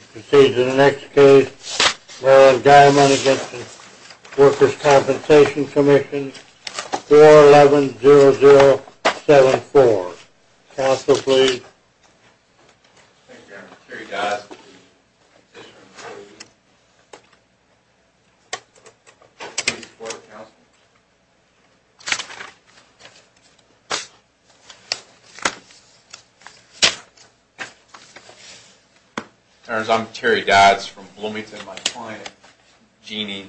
We proceed to the next case, Warren Guymon v. Workers' Compensation Comm'n, 4-11-0074. Counsel, please. Thank you, Your Honor. Terry Dodds v. the petitioner and the jury. Please report to counsel. Your Honor, I'm Terry Dodds from Bloomington. My client, Jeannie,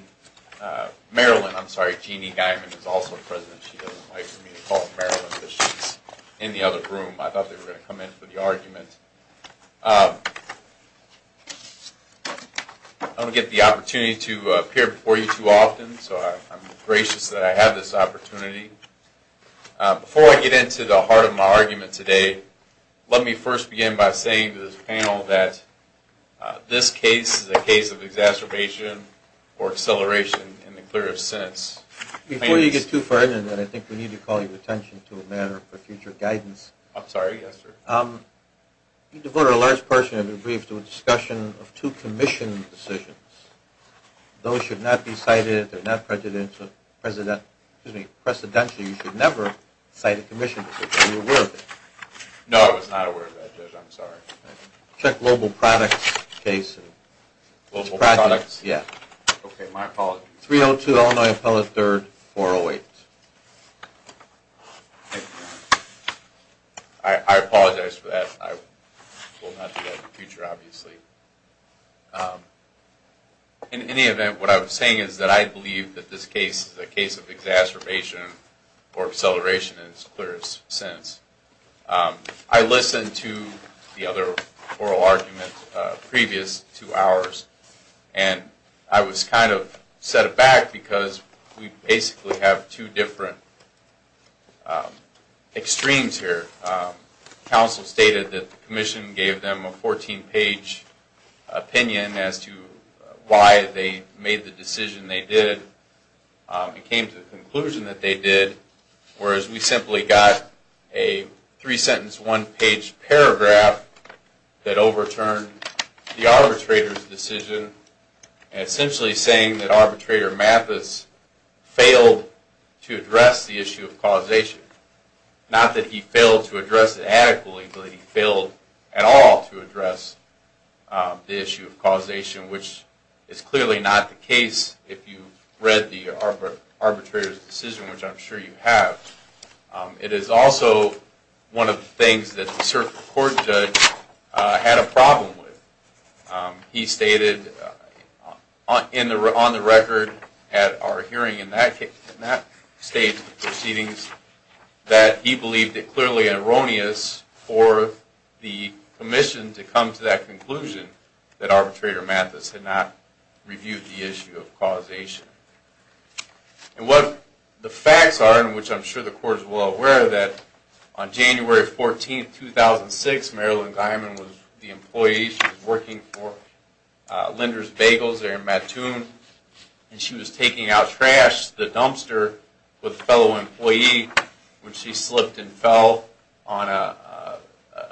Marilyn, I'm sorry, Jeannie Guymon is also present. She doesn't like for me to call her Marilyn because she's in the other room. I thought they were going to come in for the argument. I don't get the opportunity to appear before you too often, so I'm gracious that I have this opportunity. Before I get into the heart of my argument today, let me first begin by saying to this panel that this case is a case of exacerbation or acceleration in the clearest sense. Before you get too far into it, I think we need to call your attention to a matter for future guidance. I'm sorry. Yes, sir. You devoted a large portion of your brief to a discussion of two commission decisions. Those should not be cited. They're not presidential. You should never cite a commission decision. Are you aware of it? No, I was not aware of that, Judge. I'm sorry. Check global products case. Global products? Yeah. Okay. My apologies. 302 Illinois Appellate 3rd, 408. I apologize for that. I will not do that in the future, obviously. In any event, what I was saying is that I believe that this case is a case of exacerbation or acceleration in its clearest sense. I listened to the other oral arguments previous to ours, and I was kind of set aback because we basically have two different extremes here. Counsel stated that the commission gave them a 14-page opinion as to why they made the decision they did. It came to the conclusion that they did, whereas we simply got a three-sentence, one-page paragraph that overturned the arbitrator's decision, essentially saying that Arbitrator Mathis failed to address the issue of causation. Not that he failed to address it adequately, but he failed at all to address the issue of causation, which is clearly not the case if you read the arbitrator's decision, which I'm sure you have. It is also one of the things that the court judge had a problem with. He stated on the record at our hearing in that case, in that stage of proceedings, that he believed it clearly erroneous for the commission to come to that conclusion that Arbitrator Mathis had not reviewed the issue of causation. And what the facts are, and which I'm sure the court is well aware of, is that on January 14, 2006, Marilyn Guyman was the employee. She was working for Linder's Bagels there in Mattoon, and she was taking out trash to the dumpster with a fellow employee when she slipped and fell on a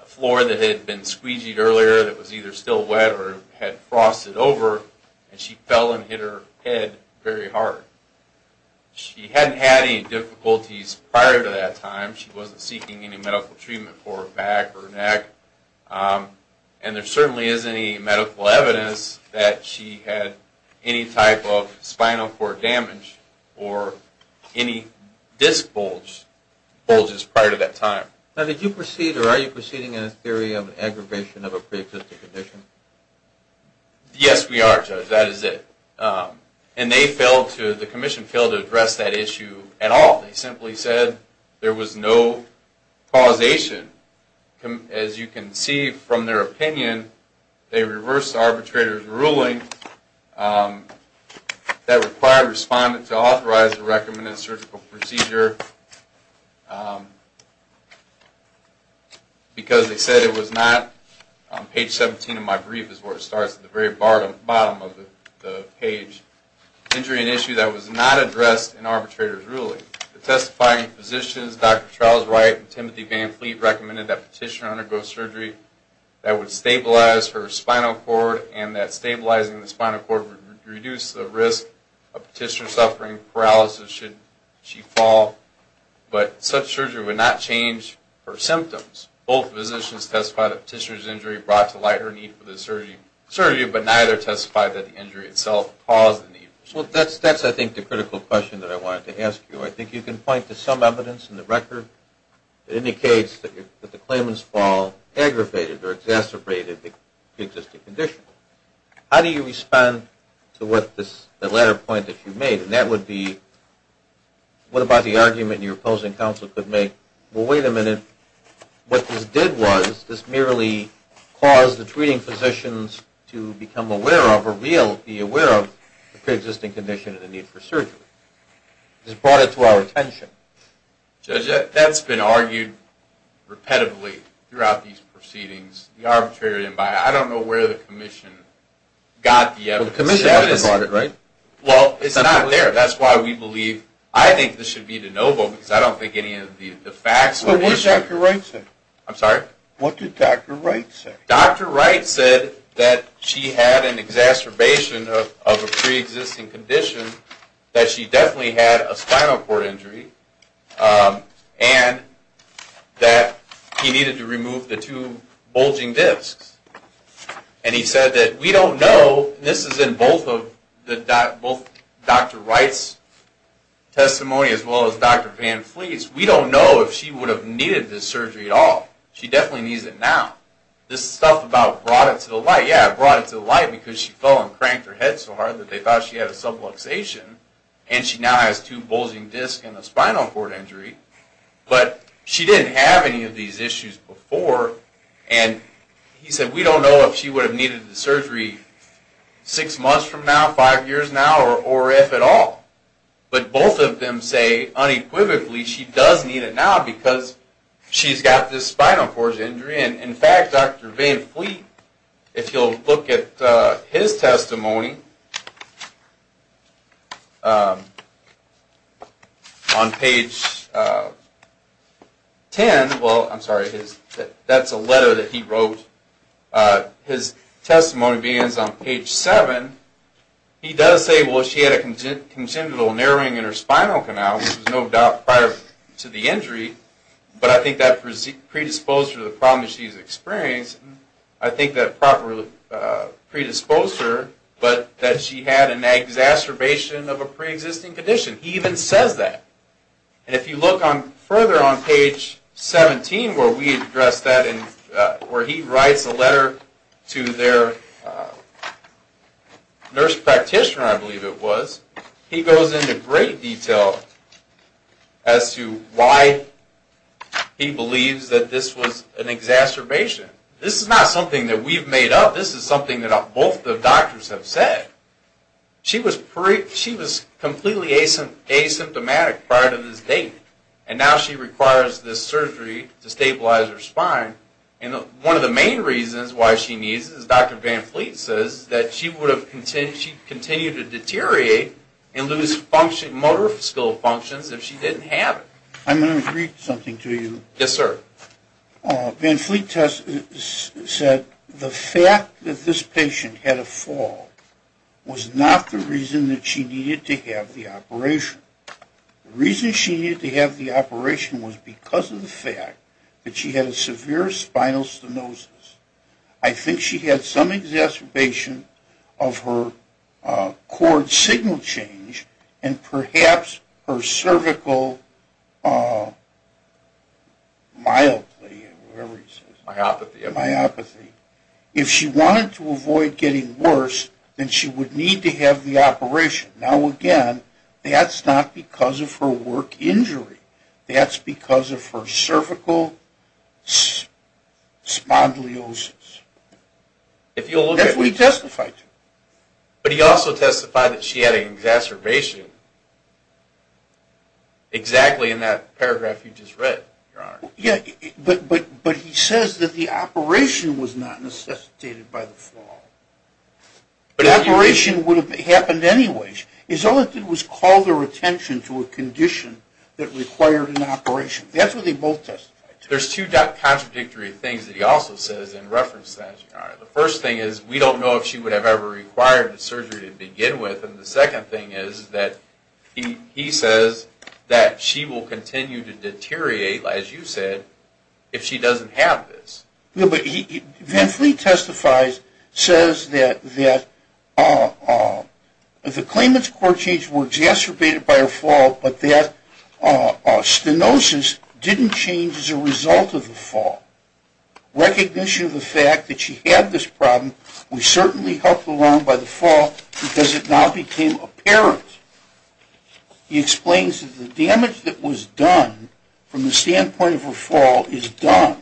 floor that had been squeegeed earlier that was either still wet or had frosted over, and she fell and hit her head very hard. She hadn't had any difficulties prior to that time. She wasn't seeking any medical treatment for her back or neck. And there certainly isn't any medical evidence that she had any type of spinal cord damage or any disc bulges prior to that time. Now, did you proceed, or are you proceeding in a theory of an aggravation of a pre-existing condition? Yes, we are, Judge. That is it. And they failed to, the commission failed to address that issue at all. They simply said there was no causation. As you can see from their opinion, they reversed the arbitrator's ruling that required a respondent to authorize a recommended surgical procedure because they said it was not, page 17 of my brief is where it starts at the very bottom of the page, injury and issue that was not addressed in arbitrator's ruling. The testifying physicians, Dr. Charles Wright and Timothy Van Fleet, recommended that Petitioner undergo surgery that would stabilize her spinal cord and that stabilizing the spinal cord would reduce the risk of Petitioner suffering paralysis should she fall. But such surgery would not change her symptoms. Both physicians testified that Petitioner's injury brought to light her need for the surgery, but neither testified that the injury itself caused the need. Well, that's, I think, the critical question that I wanted to ask you. I think you can point to some evidence in the record that indicates that the claimant's fall aggravated or exacerbated the existing condition. How do you respond to the latter point that you made? And that would be, what about the argument your opposing counsel could make, well, wait a minute, what this did was this merely caused the treating physicians to become aware of or be aware of the pre-existing condition and the need for surgery. This brought it to our attention. Judge, that's been argued repetitively throughout these proceedings, the arbitrator didn't buy it. I don't know where the commission got the evidence. Well, the commission never bought it, right? Well, it's not there. That's why we believe, I think this should be de novo because I don't think any of the facts... But what did Dr. Wright say? I'm sorry? What did Dr. Wright say? Dr. Wright said that she had an exacerbation of a pre-existing condition, that she definitely had a spinal cord injury, and that he needed to remove the two bulging discs. And he said that we don't know, and this is in both Dr. Wright's testimony as well as Dr. Van Fleet's, we don't know if she would have needed this surgery at all. She definitely needs it now. This stuff about brought it to the light, yeah, it brought it to the light because she fell and cranked her head so hard that they thought she had a subluxation, and she now has two bulging discs and a spinal cord injury, but she didn't have any of these issues before, and he said we don't know if she would have needed the surgery six months from now, five years now, or if at all. But both of them say unequivocally she does need it now because she's got this spinal cord injury, and in fact, Dr. Van Fleet, if you'll look at his testimony, on page 10, well, I'm sorry, that's a letter that he wrote. His testimony begins on page 7. He does say, well, she had a congenital narrowing in her spinal canal, which was no doubt prior to the injury, but I think that predisposed her to the problem that she's experienced. I think that probably predisposed her, but that she had an exacerbation of a preexisting condition. He even says that, and if you look further on page 17 where we address that, where he writes a letter to their nurse practitioner, I believe it was, he goes into great detail as to why he believes that this was an exacerbation. This is not something that we've made up. This is something that both the doctors have said. She was completely asymptomatic prior to this date, and now she requires this surgery to stabilize her spine, and one of the main reasons why she needs it is Dr. Van Fleet says that she would have continued to deteriorate and lose motor skill functions if she didn't have it. I'm going to read something to you. Yes, sir. Van Fleet said the fact that this patient had a fall was not the reason that she needed to have the operation. The reason she needed to have the operation was because of the fact that she had a severe spinal stenosis. I think she had some exacerbation of her cord signal change and perhaps her cervical mildly, whatever he says. Myopathy. Myopathy. If she wanted to avoid getting worse, then she would need to have the operation. Now, again, that's not because of her work injury. That's because of her cervical spondylosis. That's what he testified to. But he also testified that she had an exacerbation exactly in that paragraph you just read, Your Honor. Yeah, but he says that the operation was not necessitated by the fall. The operation would have happened anyways. His only thing was to call their attention to a condition that required an operation. That's what they both testified to. There's two contradictory things that he also says in reference to that, Your Honor. The first thing is we don't know if she would have ever required surgery to begin with. And the second thing is that he says that she will continue to deteriorate, as you said, if she doesn't have this. Yeah, but Van Fleet testifies, says that the claimants' core changes were exacerbated by her fall, but that stenosis didn't change as a result of the fall. Recognition of the fact that she had this problem, which certainly helped along by the fall, because it now became apparent. He explains that the damage that was done from the standpoint of her fall is done,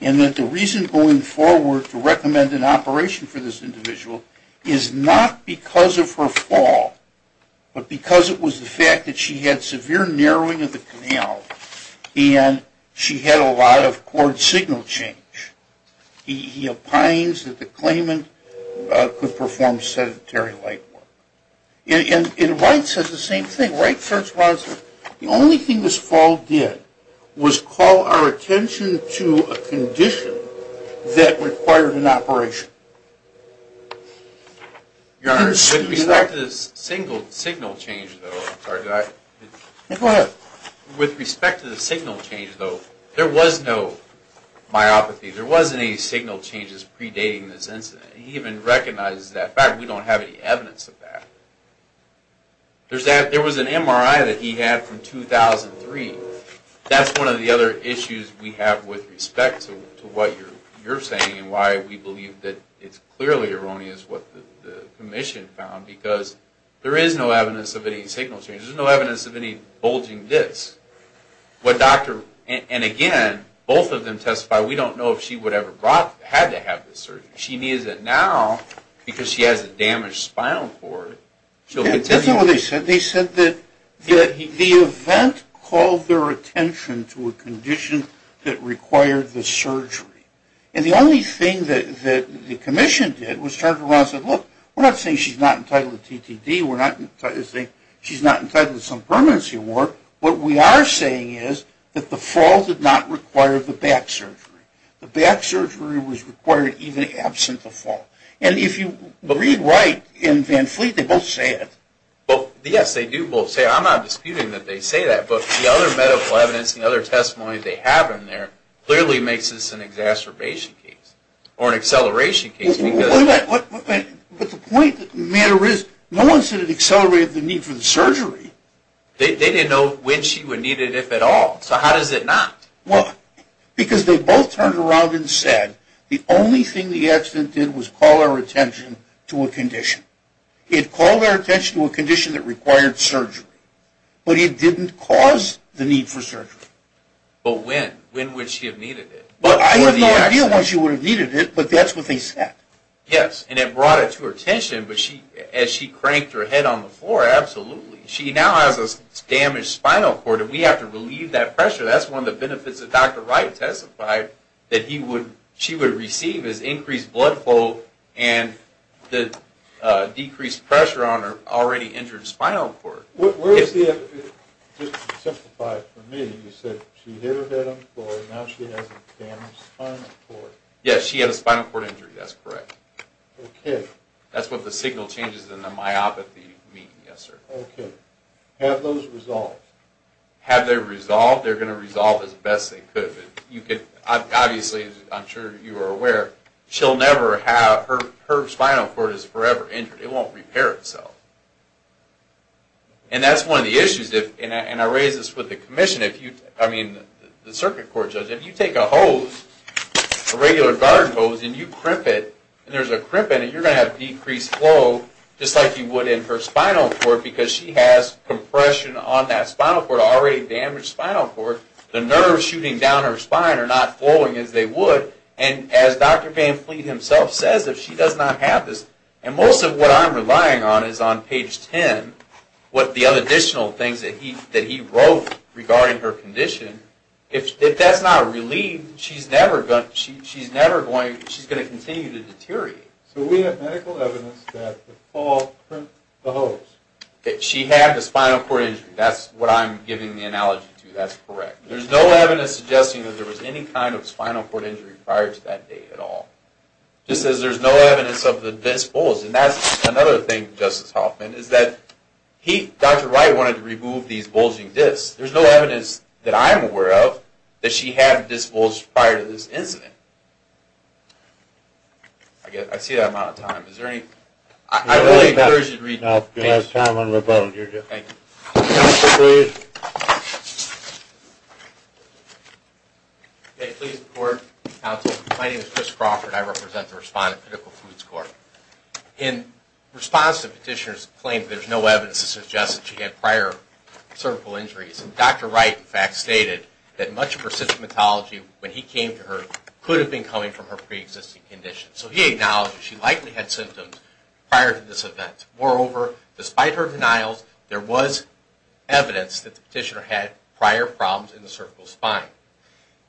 and that the reason going forward to recommend an operation for this individual is not because of her fall, but because it was the fact that she had severe narrowing of the canal and she had a lot of cord signal change. He opines that the claimant could perform sedentary light work. And Wright says the same thing. Wright corresponds that the only thing this fall did was call our attention to a condition that required an operation. Your Honor, with respect to the signal change, though, there was no myopathy. There wasn't any signal changes predating this incident. He even recognizes that fact. We don't have any evidence of that. There was an MRI that he had from 2003. That's one of the other issues we have with respect to what you're saying and why we believe that it's clearly erroneous what the commission found, because there is no evidence of any signal changes. There's no evidence of any bulging discs. And again, both of them testify, we don't know if she would have had to have this surgery. She needs it now because she has a damaged spinal cord. They said that the event called their attention to a condition that required the surgery. And the only thing that the commission did was turn around and said, look, we're not saying she's not entitled to TTD. We're not saying she's not entitled to some permanency award. What we are saying is that the fall did not require the back surgery. The back surgery was required even absent the fall. And if you read right in Van Fleet, they both say it. Well, yes, they do both say it. I'm not disputing that they say that. But the other medical evidence and other testimony they have in there clearly makes this an exacerbation case or an acceleration case. But the point of the matter is no one said it accelerated the need for the surgery. They didn't know when she would need it, if at all. So how does it not? Well, because they both turned around and said the only thing the accident did was call our attention to a condition. It called our attention to a condition that required surgery. But it didn't cause the need for surgery. But when? When would she have needed it? I have no idea when she would have needed it, but that's what they said. Yes, and it brought it to her attention. But as she cranked her head on the floor, absolutely. She now has a damaged spinal cord, and we have to relieve that pressure. That's one of the benefits that Dr. Wright testified, that she would receive is increased blood flow and the decreased pressure on her already injured spinal cord. Just to simplify it for me, you said she hit her head on the floor, and now she has a damaged spinal cord. Yes, she had a spinal cord injury. That's correct. Okay. That's what the signal changes in the myopathy mean, yes, sir. Okay. Have those resolved? Have they resolved? They're going to resolve as best they could. Obviously, I'm sure you are aware, her spinal cord is forever injured. It won't repair itself. And that's one of the issues. And I raise this with the circuit court judge. If you take a hose, a regular garden hose, and you crimp it, and there's a crimp in it, you're going to have decreased flow, just like you would in her spinal cord, because she has compression on that spinal cord, already damaged spinal cord. The nerves shooting down her spine are not flowing as they would. And as Dr. Van Fleet himself says, if she does not have this, and most of what I'm relying on is on page 10, what the other additional things that he wrote regarding her condition. If that's not relieved, she's never going to continue to deteriorate. So we have medical evidence that the fall crimped the hose. She had a spinal cord injury. That's what I'm giving the analogy to. That's correct. There's no evidence suggesting that there was any kind of spinal cord injury prior to that day at all. Just as there's no evidence of the disc bulge. And that's another thing, Justice Hoffman, is that Dr. Wright wanted to remove these bulging discs. There's no evidence that I'm aware of that she had a disc bulge prior to this incident. Okay. I see that amount of time. Is there any? I really encourage you to read the case. No. You have time on your vote. Thank you. Counsel, please. Okay. Please report, counsel. My name is Chris Crawford. I represent the Respondent Critical Foods Court. In response to the petitioner's claim that there's no evidence to suggest that she had prior cervical injuries, Dr. Wright, in fact, stated that much of her symptomatology, when he came to her, could have been coming from her preexisting condition. So he acknowledged that she likely had symptoms prior to this event. Moreover, despite her denials, there was evidence that the petitioner had prior problems in the cervical spine.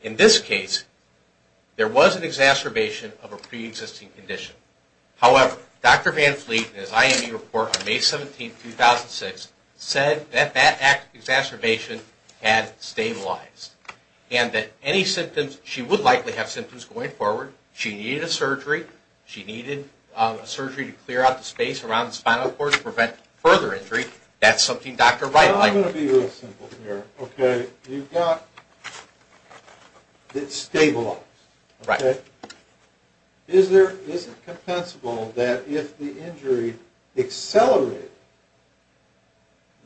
In this case, there was an exacerbation of a preexisting condition. However, Dr. Van Fleet, in his IME report on May 17, 2006, said that that exacerbation had stabilized and that any symptoms she would likely have symptoms going forward. She needed a surgery. She needed a surgery to clear out the space around the spinal cord to prevent further injury. That's something Dr. Wright likely had. I'm going to be real simple here. Okay. You've got it stabilized. Right. Okay. Is it compensable that if the injury accelerated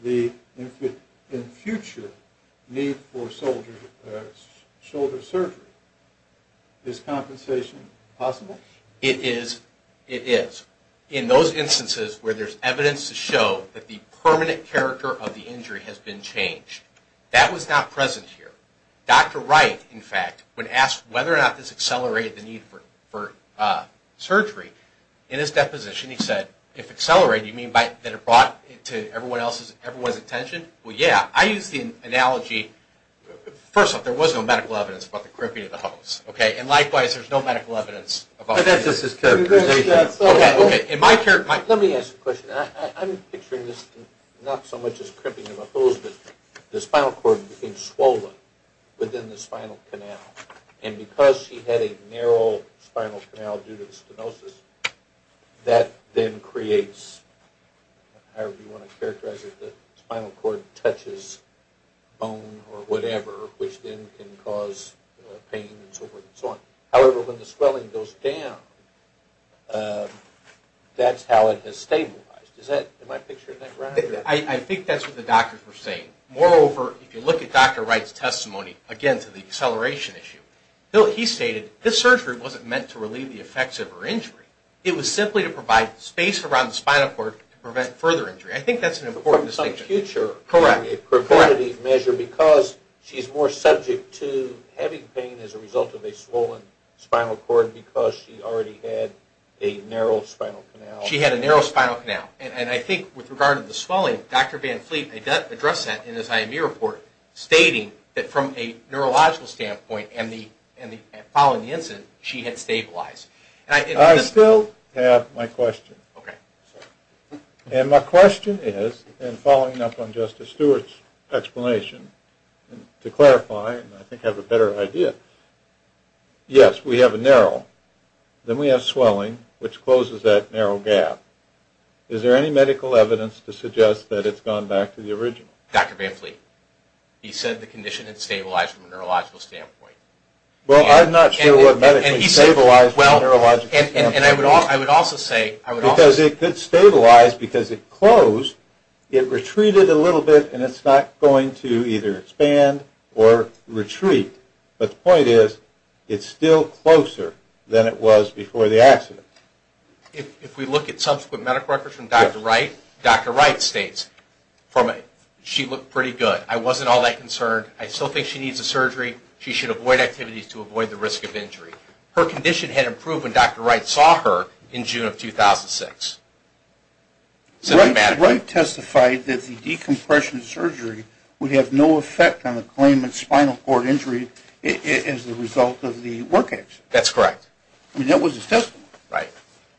the, in future, need for shoulder surgery? Is compensation possible? It is. It is. In those instances where there's evidence to show that the permanent character of the injury has been changed, that was not present here. Dr. Wright, in fact, when asked whether or not this accelerated the need for surgery, in his deposition he said, if accelerated, you mean that it brought it to everyone's attention? Well, yeah. I use the analogy, first off, there was no medical evidence about the crimping of the hose. Okay. And likewise, there's no medical evidence. Okay. Let me ask a question. I'm picturing this not so much as crimping of a hose, but I'm picturing the spinal cord being swollen within the spinal canal. And because she had a narrow spinal canal due to stenosis, that then creates, however you want to characterize it, the spinal cord touches bone or whatever, which then can cause pain and so forth and so on. However, when the swelling goes down, that's how it has stabilized. Is that my picture in that round? I think that's what the doctors were saying. Moreover, if you look at Dr. Wright's testimony, again, to the acceleration issue, he stated this surgery wasn't meant to relieve the effects of her injury. It was simply to provide space around the spinal cord to prevent further injury. I think that's an important distinction. From the future. Correct. It provided a measure because she's more subject to having pain as a result of a swollen spinal cord because she already had a narrow spinal canal. She had a narrow spinal canal. And I think with regard to the swelling, Dr. Van Fleet addressed that in his IMU report, stating that from a neurological standpoint and following the incident, she had stabilized. I still have my question. Okay. And my question is, and following up on Justice Stewart's explanation, to clarify and I think have a better idea, yes, we have a narrow. Then we have swelling, which closes that narrow gap. Is there any medical evidence to suggest that it's gone back to the original? Dr. Van Fleet, he said the condition had stabilized from a neurological standpoint. Well, I'm not sure what medically stabilized from a neurological standpoint. I would also say. Because it could stabilize because it closed. It retreated a little bit and it's not going to either expand or retreat. But the point is, it's still closer than it was before the accident. If we look at subsequent medical records from Dr. Wright, Dr. Wright states, she looked pretty good. I wasn't all that concerned. I still think she needs a surgery. She should avoid activities to avoid the risk of injury. Her condition had improved when Dr. Wright saw her in June of 2006. Right. Dr. Wright testified that the decompression surgery would have no effect on the claimant's spinal cord injury as a result of the work accident. That's correct. I mean, that was his testimony. Right.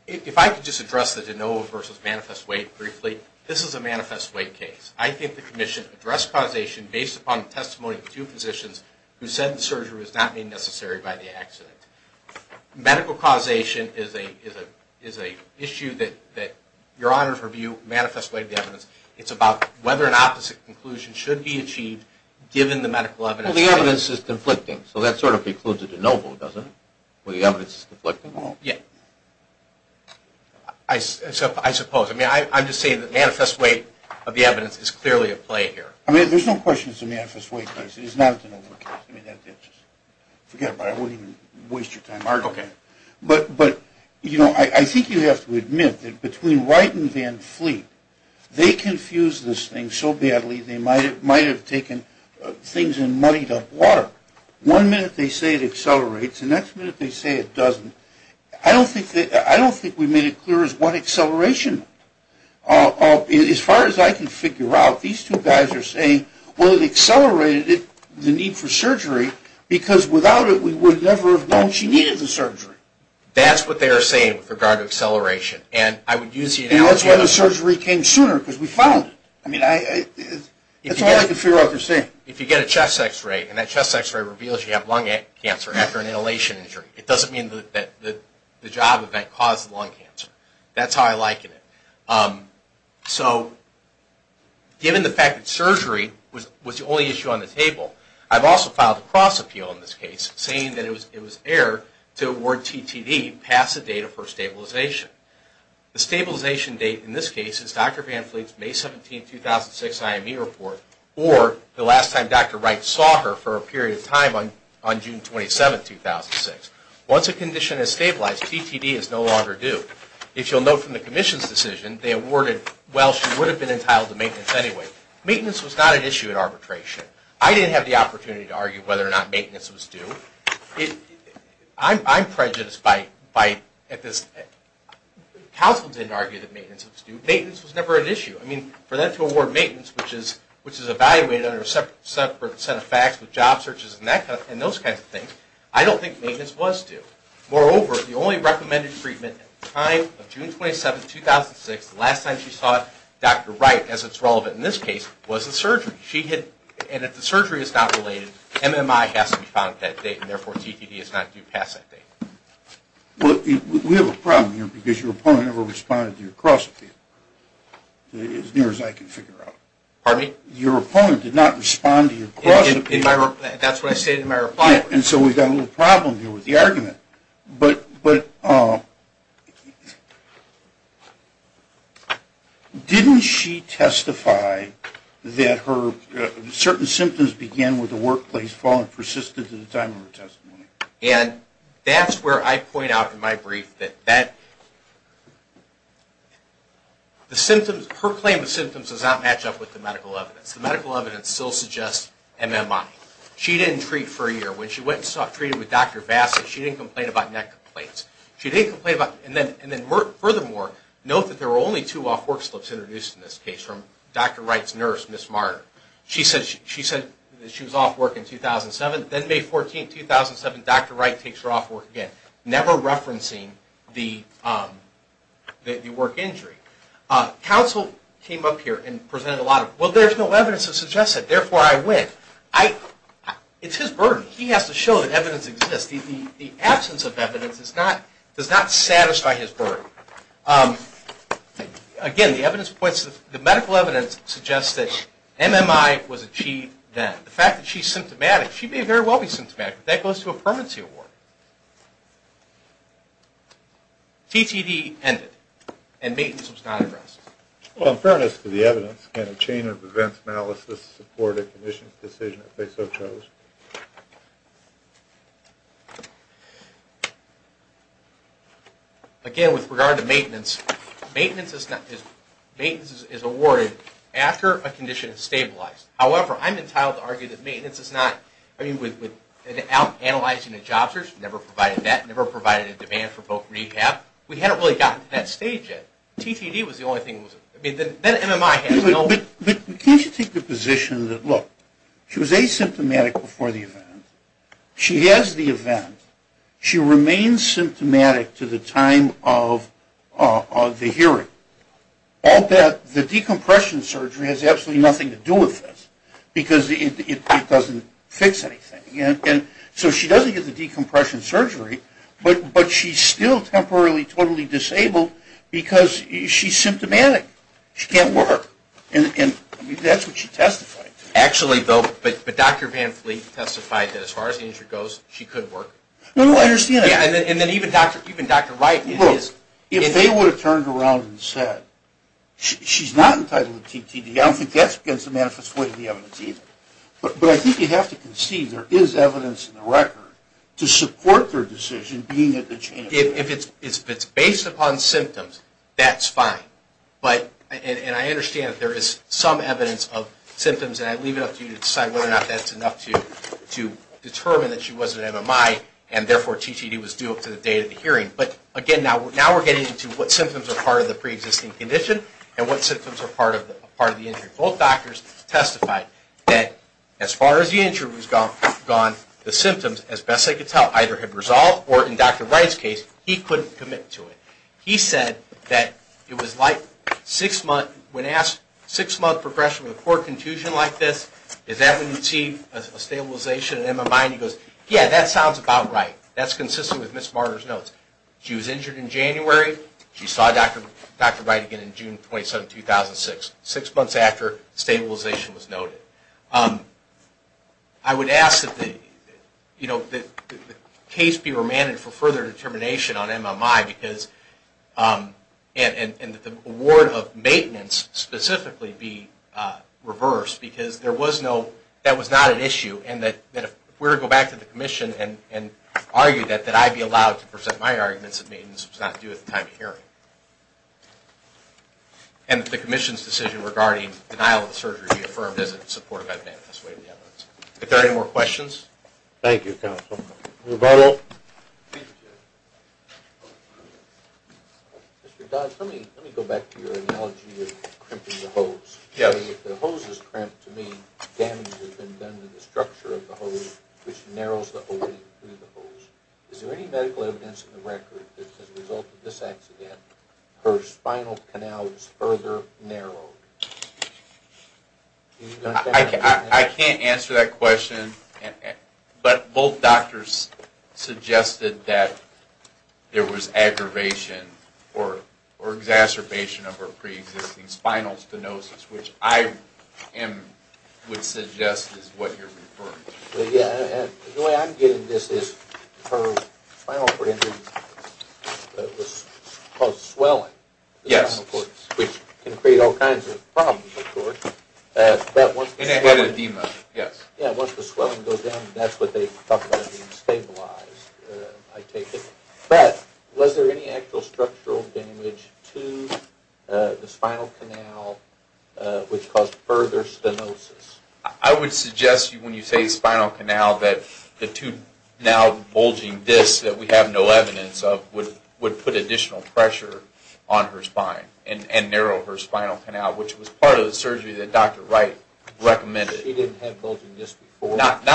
If I could just address the de novo versus manifest weight briefly. This is a manifest weight case. I think the commission addressed causation based upon the testimony of two physicians who said the surgery was not made necessary by the accident. Medical causation is an issue that Your Honor's review manifest weight evidence. It's about whether an opposite conclusion should be achieved given the medical evidence. Well, the evidence is conflicting. So that sort of precludes a de novo, doesn't it, where the evidence is conflicting? Well, yeah. I suppose. I mean, I'm just saying that manifest weight of the evidence is clearly at play here. I mean, there's no question it's a manifest weight case. It is not a de novo case. I mean, forget about it. I won't even waste your time arguing. Okay. But, you know, I think you have to admit that between Wright and Van Fleet, they confused this thing so badly they might have taken things and muddied up water. One minute they say it accelerates. The next minute they say it doesn't. I don't think we made it clear as what acceleration. As far as I can figure out, these two guys are saying, well, it accelerated the need for surgery because without it we would never have known she needed the surgery. That's what they are saying with regard to acceleration. And that's why the surgery came sooner because we found it. I mean, that's all I can figure out they're saying. If you get a chest X-ray and that chest X-ray reveals you have lung cancer after an inhalation injury, it doesn't mean that the job event caused the lung cancer. That's how I liken it. So given the fact that surgery was the only issue on the table, I've also filed a cross-appeal in this case saying that it was error to award TTD past the date of her stabilization. The stabilization date in this case is Dr. Van Fleet's May 17, 2006, IME report or the last time Dr. Wright saw her for a period of time on June 27, 2006. Once a condition is stabilized, TTD is no longer due. If you'll note from the commission's decision, they awarded, well, she would have been entitled to maintenance anyway. Maintenance was not an issue in arbitration. I didn't have the opportunity to argue whether or not maintenance was due. I'm prejudiced by this. Counsel didn't argue that maintenance was due. Maintenance was never an issue. I mean, for them to award maintenance, which is evaluated under a separate set of facts with job searches and those kinds of things, I don't think maintenance was due. Moreover, the only recommended treatment at the time of June 27, 2006, the last time she saw Dr. Wright as it's relevant in this case, was the surgery. And if the surgery is not related, MMI has to be found at that date, and therefore, TTD is not due past that date. Well, we have a problem here because your opponent never responded to your cross-appeal, as near as I can figure out. Pardon me? Your opponent did not respond to your cross-appeal. That's what I said in my reply. And so we've got a little problem here with the argument. But didn't she testify that certain symptoms began with the workplace fall and persisted to the time of her testimony? And that's where I point out in my brief that her claim of symptoms does not match up with the medical evidence. The medical evidence still suggests MMI. She didn't treat for a year. When she went and was treated with Dr. Bassett, she didn't complain about neck complaints. And then furthermore, note that there were only two off-work slips introduced in this case from Dr. Wright's nurse, Ms. Marder. She said she was off work in 2007. Then May 14, 2007, Dr. Wright takes her off work again, never referencing the work injury. Counsel came up here and presented a lot of, well, there's no evidence to suggest that. Therefore, I win. It's his burden. He has to show that evidence exists. The absence of evidence does not satisfy his burden. Again, the medical evidence suggests that MMI was achieved then. The fact that she's symptomatic, she may very well be symptomatic, but that goes to a permanency award. TTD ended and maintenance was not addressed. Well, in fairness to the evidence, can a chain of events analysis support a condition's decision if they so chose? Again, with regard to maintenance, maintenance is awarded after a condition is stabilized. However, I'm entitled to argue that maintenance is not. I mean, without analyzing the job search, never provided that, never provided a demand for both rehab, we hadn't really gotten to that stage yet. TTD was the only thing that was, I mean, then MMI has no. But can't you take the position that, look, she was asymptomatic before the event. She has the event. She remains symptomatic to the time of the hearing. All that, the decompression surgery has absolutely nothing to do with this because it doesn't fix anything. And so she doesn't get the decompression surgery, but she's still temporarily totally disabled because she's symptomatic. She can't work. And that's what she testified to. Actually, though, but Dr. Van Fleet testified that as far as the injury goes, she could work. No, no, I understand that. Yeah, and then even Dr. Wright. Look, if they would have turned around and said, she's not entitled to TTD, I don't think that's against the manifest way of the evidence either. But I think you have to conceive there is evidence in the record to support their decision being at the chance. If it's based upon symptoms, that's fine. And I understand that there is some evidence of symptoms, and I leave it up to you to decide whether or not that's enough to determine that she was at MMI and, therefore, TTD was due up to the date of the hearing. But, again, now we're getting into what symptoms are part of the preexisting condition and what symptoms are part of the injury. Both doctors testified that as far as the injury was gone, the symptoms, as best they could tell, either had resolved or, in Dr. Wright's case, he couldn't commit to it. He said that it was like six-month, when asked, six-month progression with a core contusion like this, is that when you see a stabilization in MMI? And he goes, yeah, that sounds about right. That's consistent with Ms. Marder's notes. She was injured in January. She saw Dr. Wright again in June 27, 2006. Six months after, stabilization was noted. I would ask that the case be remanded for further determination on MMI and that the award of maintenance specifically be reversed, because that was not an issue and that if we were to go back to the Commission and argue that I'd be allowed to present my arguments that maintenance was not due at the time of hearing. And that the Commission's decision regarding denial of the surgery be affirmed as in support of evidence. If there are any more questions? Thank you, counsel. Rebuttal. Mr. Dodds, let me go back to your analogy of crimping the hose. If the hose is crimped, to me, damage has been done to the structure of the hose, which narrows the opening through the hose. Is there any medical evidence in the record that as a result of this accident, her spinal canal was further narrowed? I can't answer that question, but both doctors suggested that there was aggravation or exacerbation of her preexisting spinal stenosis, which I would suggest is what you're referring to. The way I'm getting this is her spinal cord injury caused swelling. Yes. Which can create all kinds of problems, of course. And it had edema, yes. Once the swelling goes down, that's what they talk about as being stabilized, I take it. But was there any actual structural damage to the spinal canal which caused further stenosis? I would suggest, when you say spinal canal, that the two now bulging discs that we have no evidence of would put additional pressure on her spine and narrow her spinal canal, which was part of the surgery that Dr. Wright recommended. She didn't have bulging discs before? Not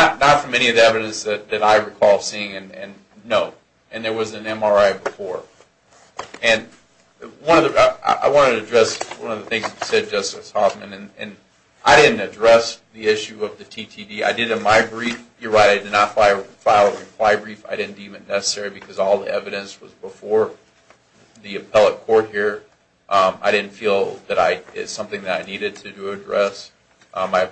from any of the evidence that I recall seeing, no. And there was an MRI before. And I wanted to address one of the things that you said, Justice Hoffman, and I didn't address the issue of the TTD. I did in my brief. You're right, I did not file a reply brief. I didn't deem it necessary because all the evidence was before the appellate court here. I didn't feel that it's something that I needed to address. I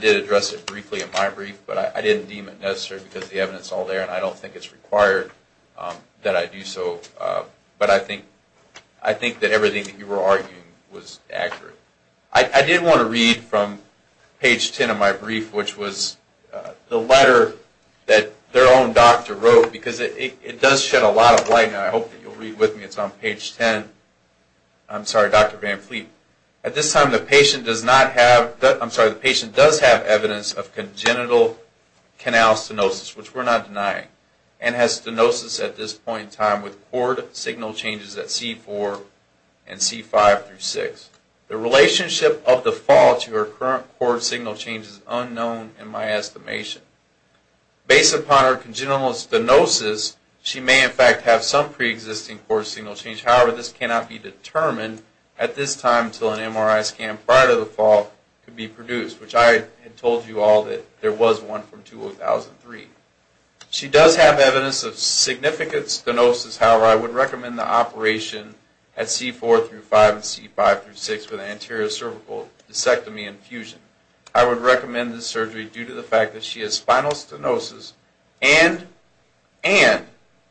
did address it briefly in my brief, but I didn't deem it necessary because the evidence is all there and I don't think it's required that I do so. But I think that everything that you were arguing was accurate. I did want to read from page 10 of my brief, which was the letter that their own doctor wrote, because it does shed a lot of light, and I hope that you'll read with me. It's on page 10. I'm sorry, Dr. Van Fleet. At this time, the patient does have evidence of congenital canal stenosis, which we're not denying, and has stenosis at this point in time with cord signal changes at C4 and C5 through 6. The relationship of the fall to her current cord signal change is unknown in my estimation. Based upon her congenital stenosis, she may in fact have some preexisting cord signal change. However, this cannot be determined at this time until an MRI scan prior to the fall can be produced, which I had told you all that there was one from 2003. She does have evidence of significant stenosis. However, I would recommend the operation at C4 through 5 and C5 through 6 with anterior cervical discectomy and fusion. I would recommend the surgery due to the fact that she has spinal stenosis and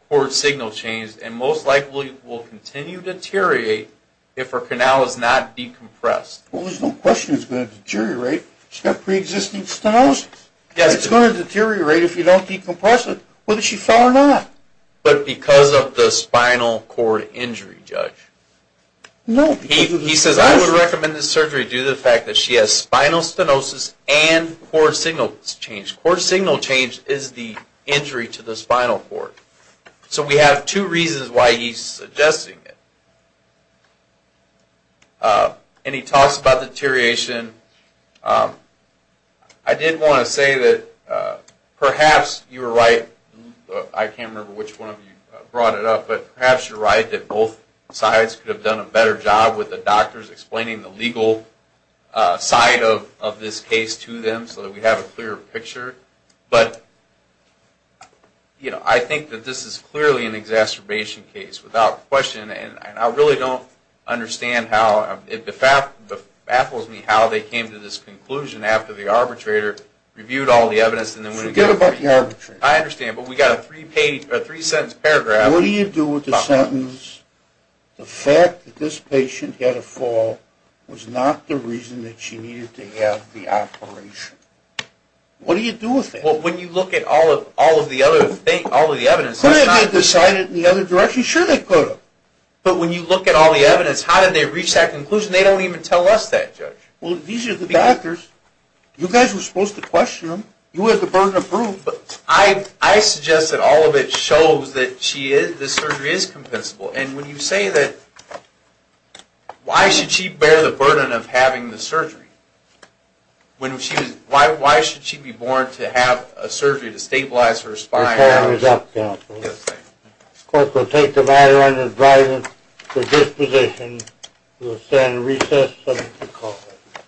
cord signal change, and most likely will continue to deteriorate if her canal is not decompressed. Well, there's no question it's going to deteriorate. She's got preexisting stenosis. Yes. It's going to deteriorate if you don't decompress it, whether she fell or not. But because of the spinal cord injury, Judge. No. He says I would recommend this surgery due to the fact that she has spinal stenosis and cord signal change. Cord signal change is the injury to the spinal cord. So we have two reasons why he's suggesting it. And he talks about deterioration. I did want to say that perhaps you were right. I can't remember which one of you brought it up, but perhaps you're right that both sides could have done a better job with the doctors explaining the legal side of this case to them so that we have a clearer picture. But, you know, I think that this is clearly an exacerbation case without question, and I really don't understand how. It baffles me how they came to this conclusion after the arbitrator reviewed all the evidence and then went again. Forget about the arbitrator. I understand. But we've got a three-sentence paragraph. What do you do with the sentence, the fact that this patient had a fall was not the reason that she needed to have the operation? What do you do with that? Well, when you look at all of the other evidence. Could they have decided in the other direction? Sure they could have. But when you look at all the evidence, how did they reach that conclusion? They don't even tell us that, Judge. Well, these are the doctors. You guys were supposed to question them. You had the burden of proof. But I suggest that all of it shows that the surgery is compensable. And when you say that, why should she bear the burden of having the surgery? Why should she be born to have a surgery to stabilize her spine? Your time is up, Counselor. The Court will take the matter under the guidance of this position. We will stand at recess until the call is heard.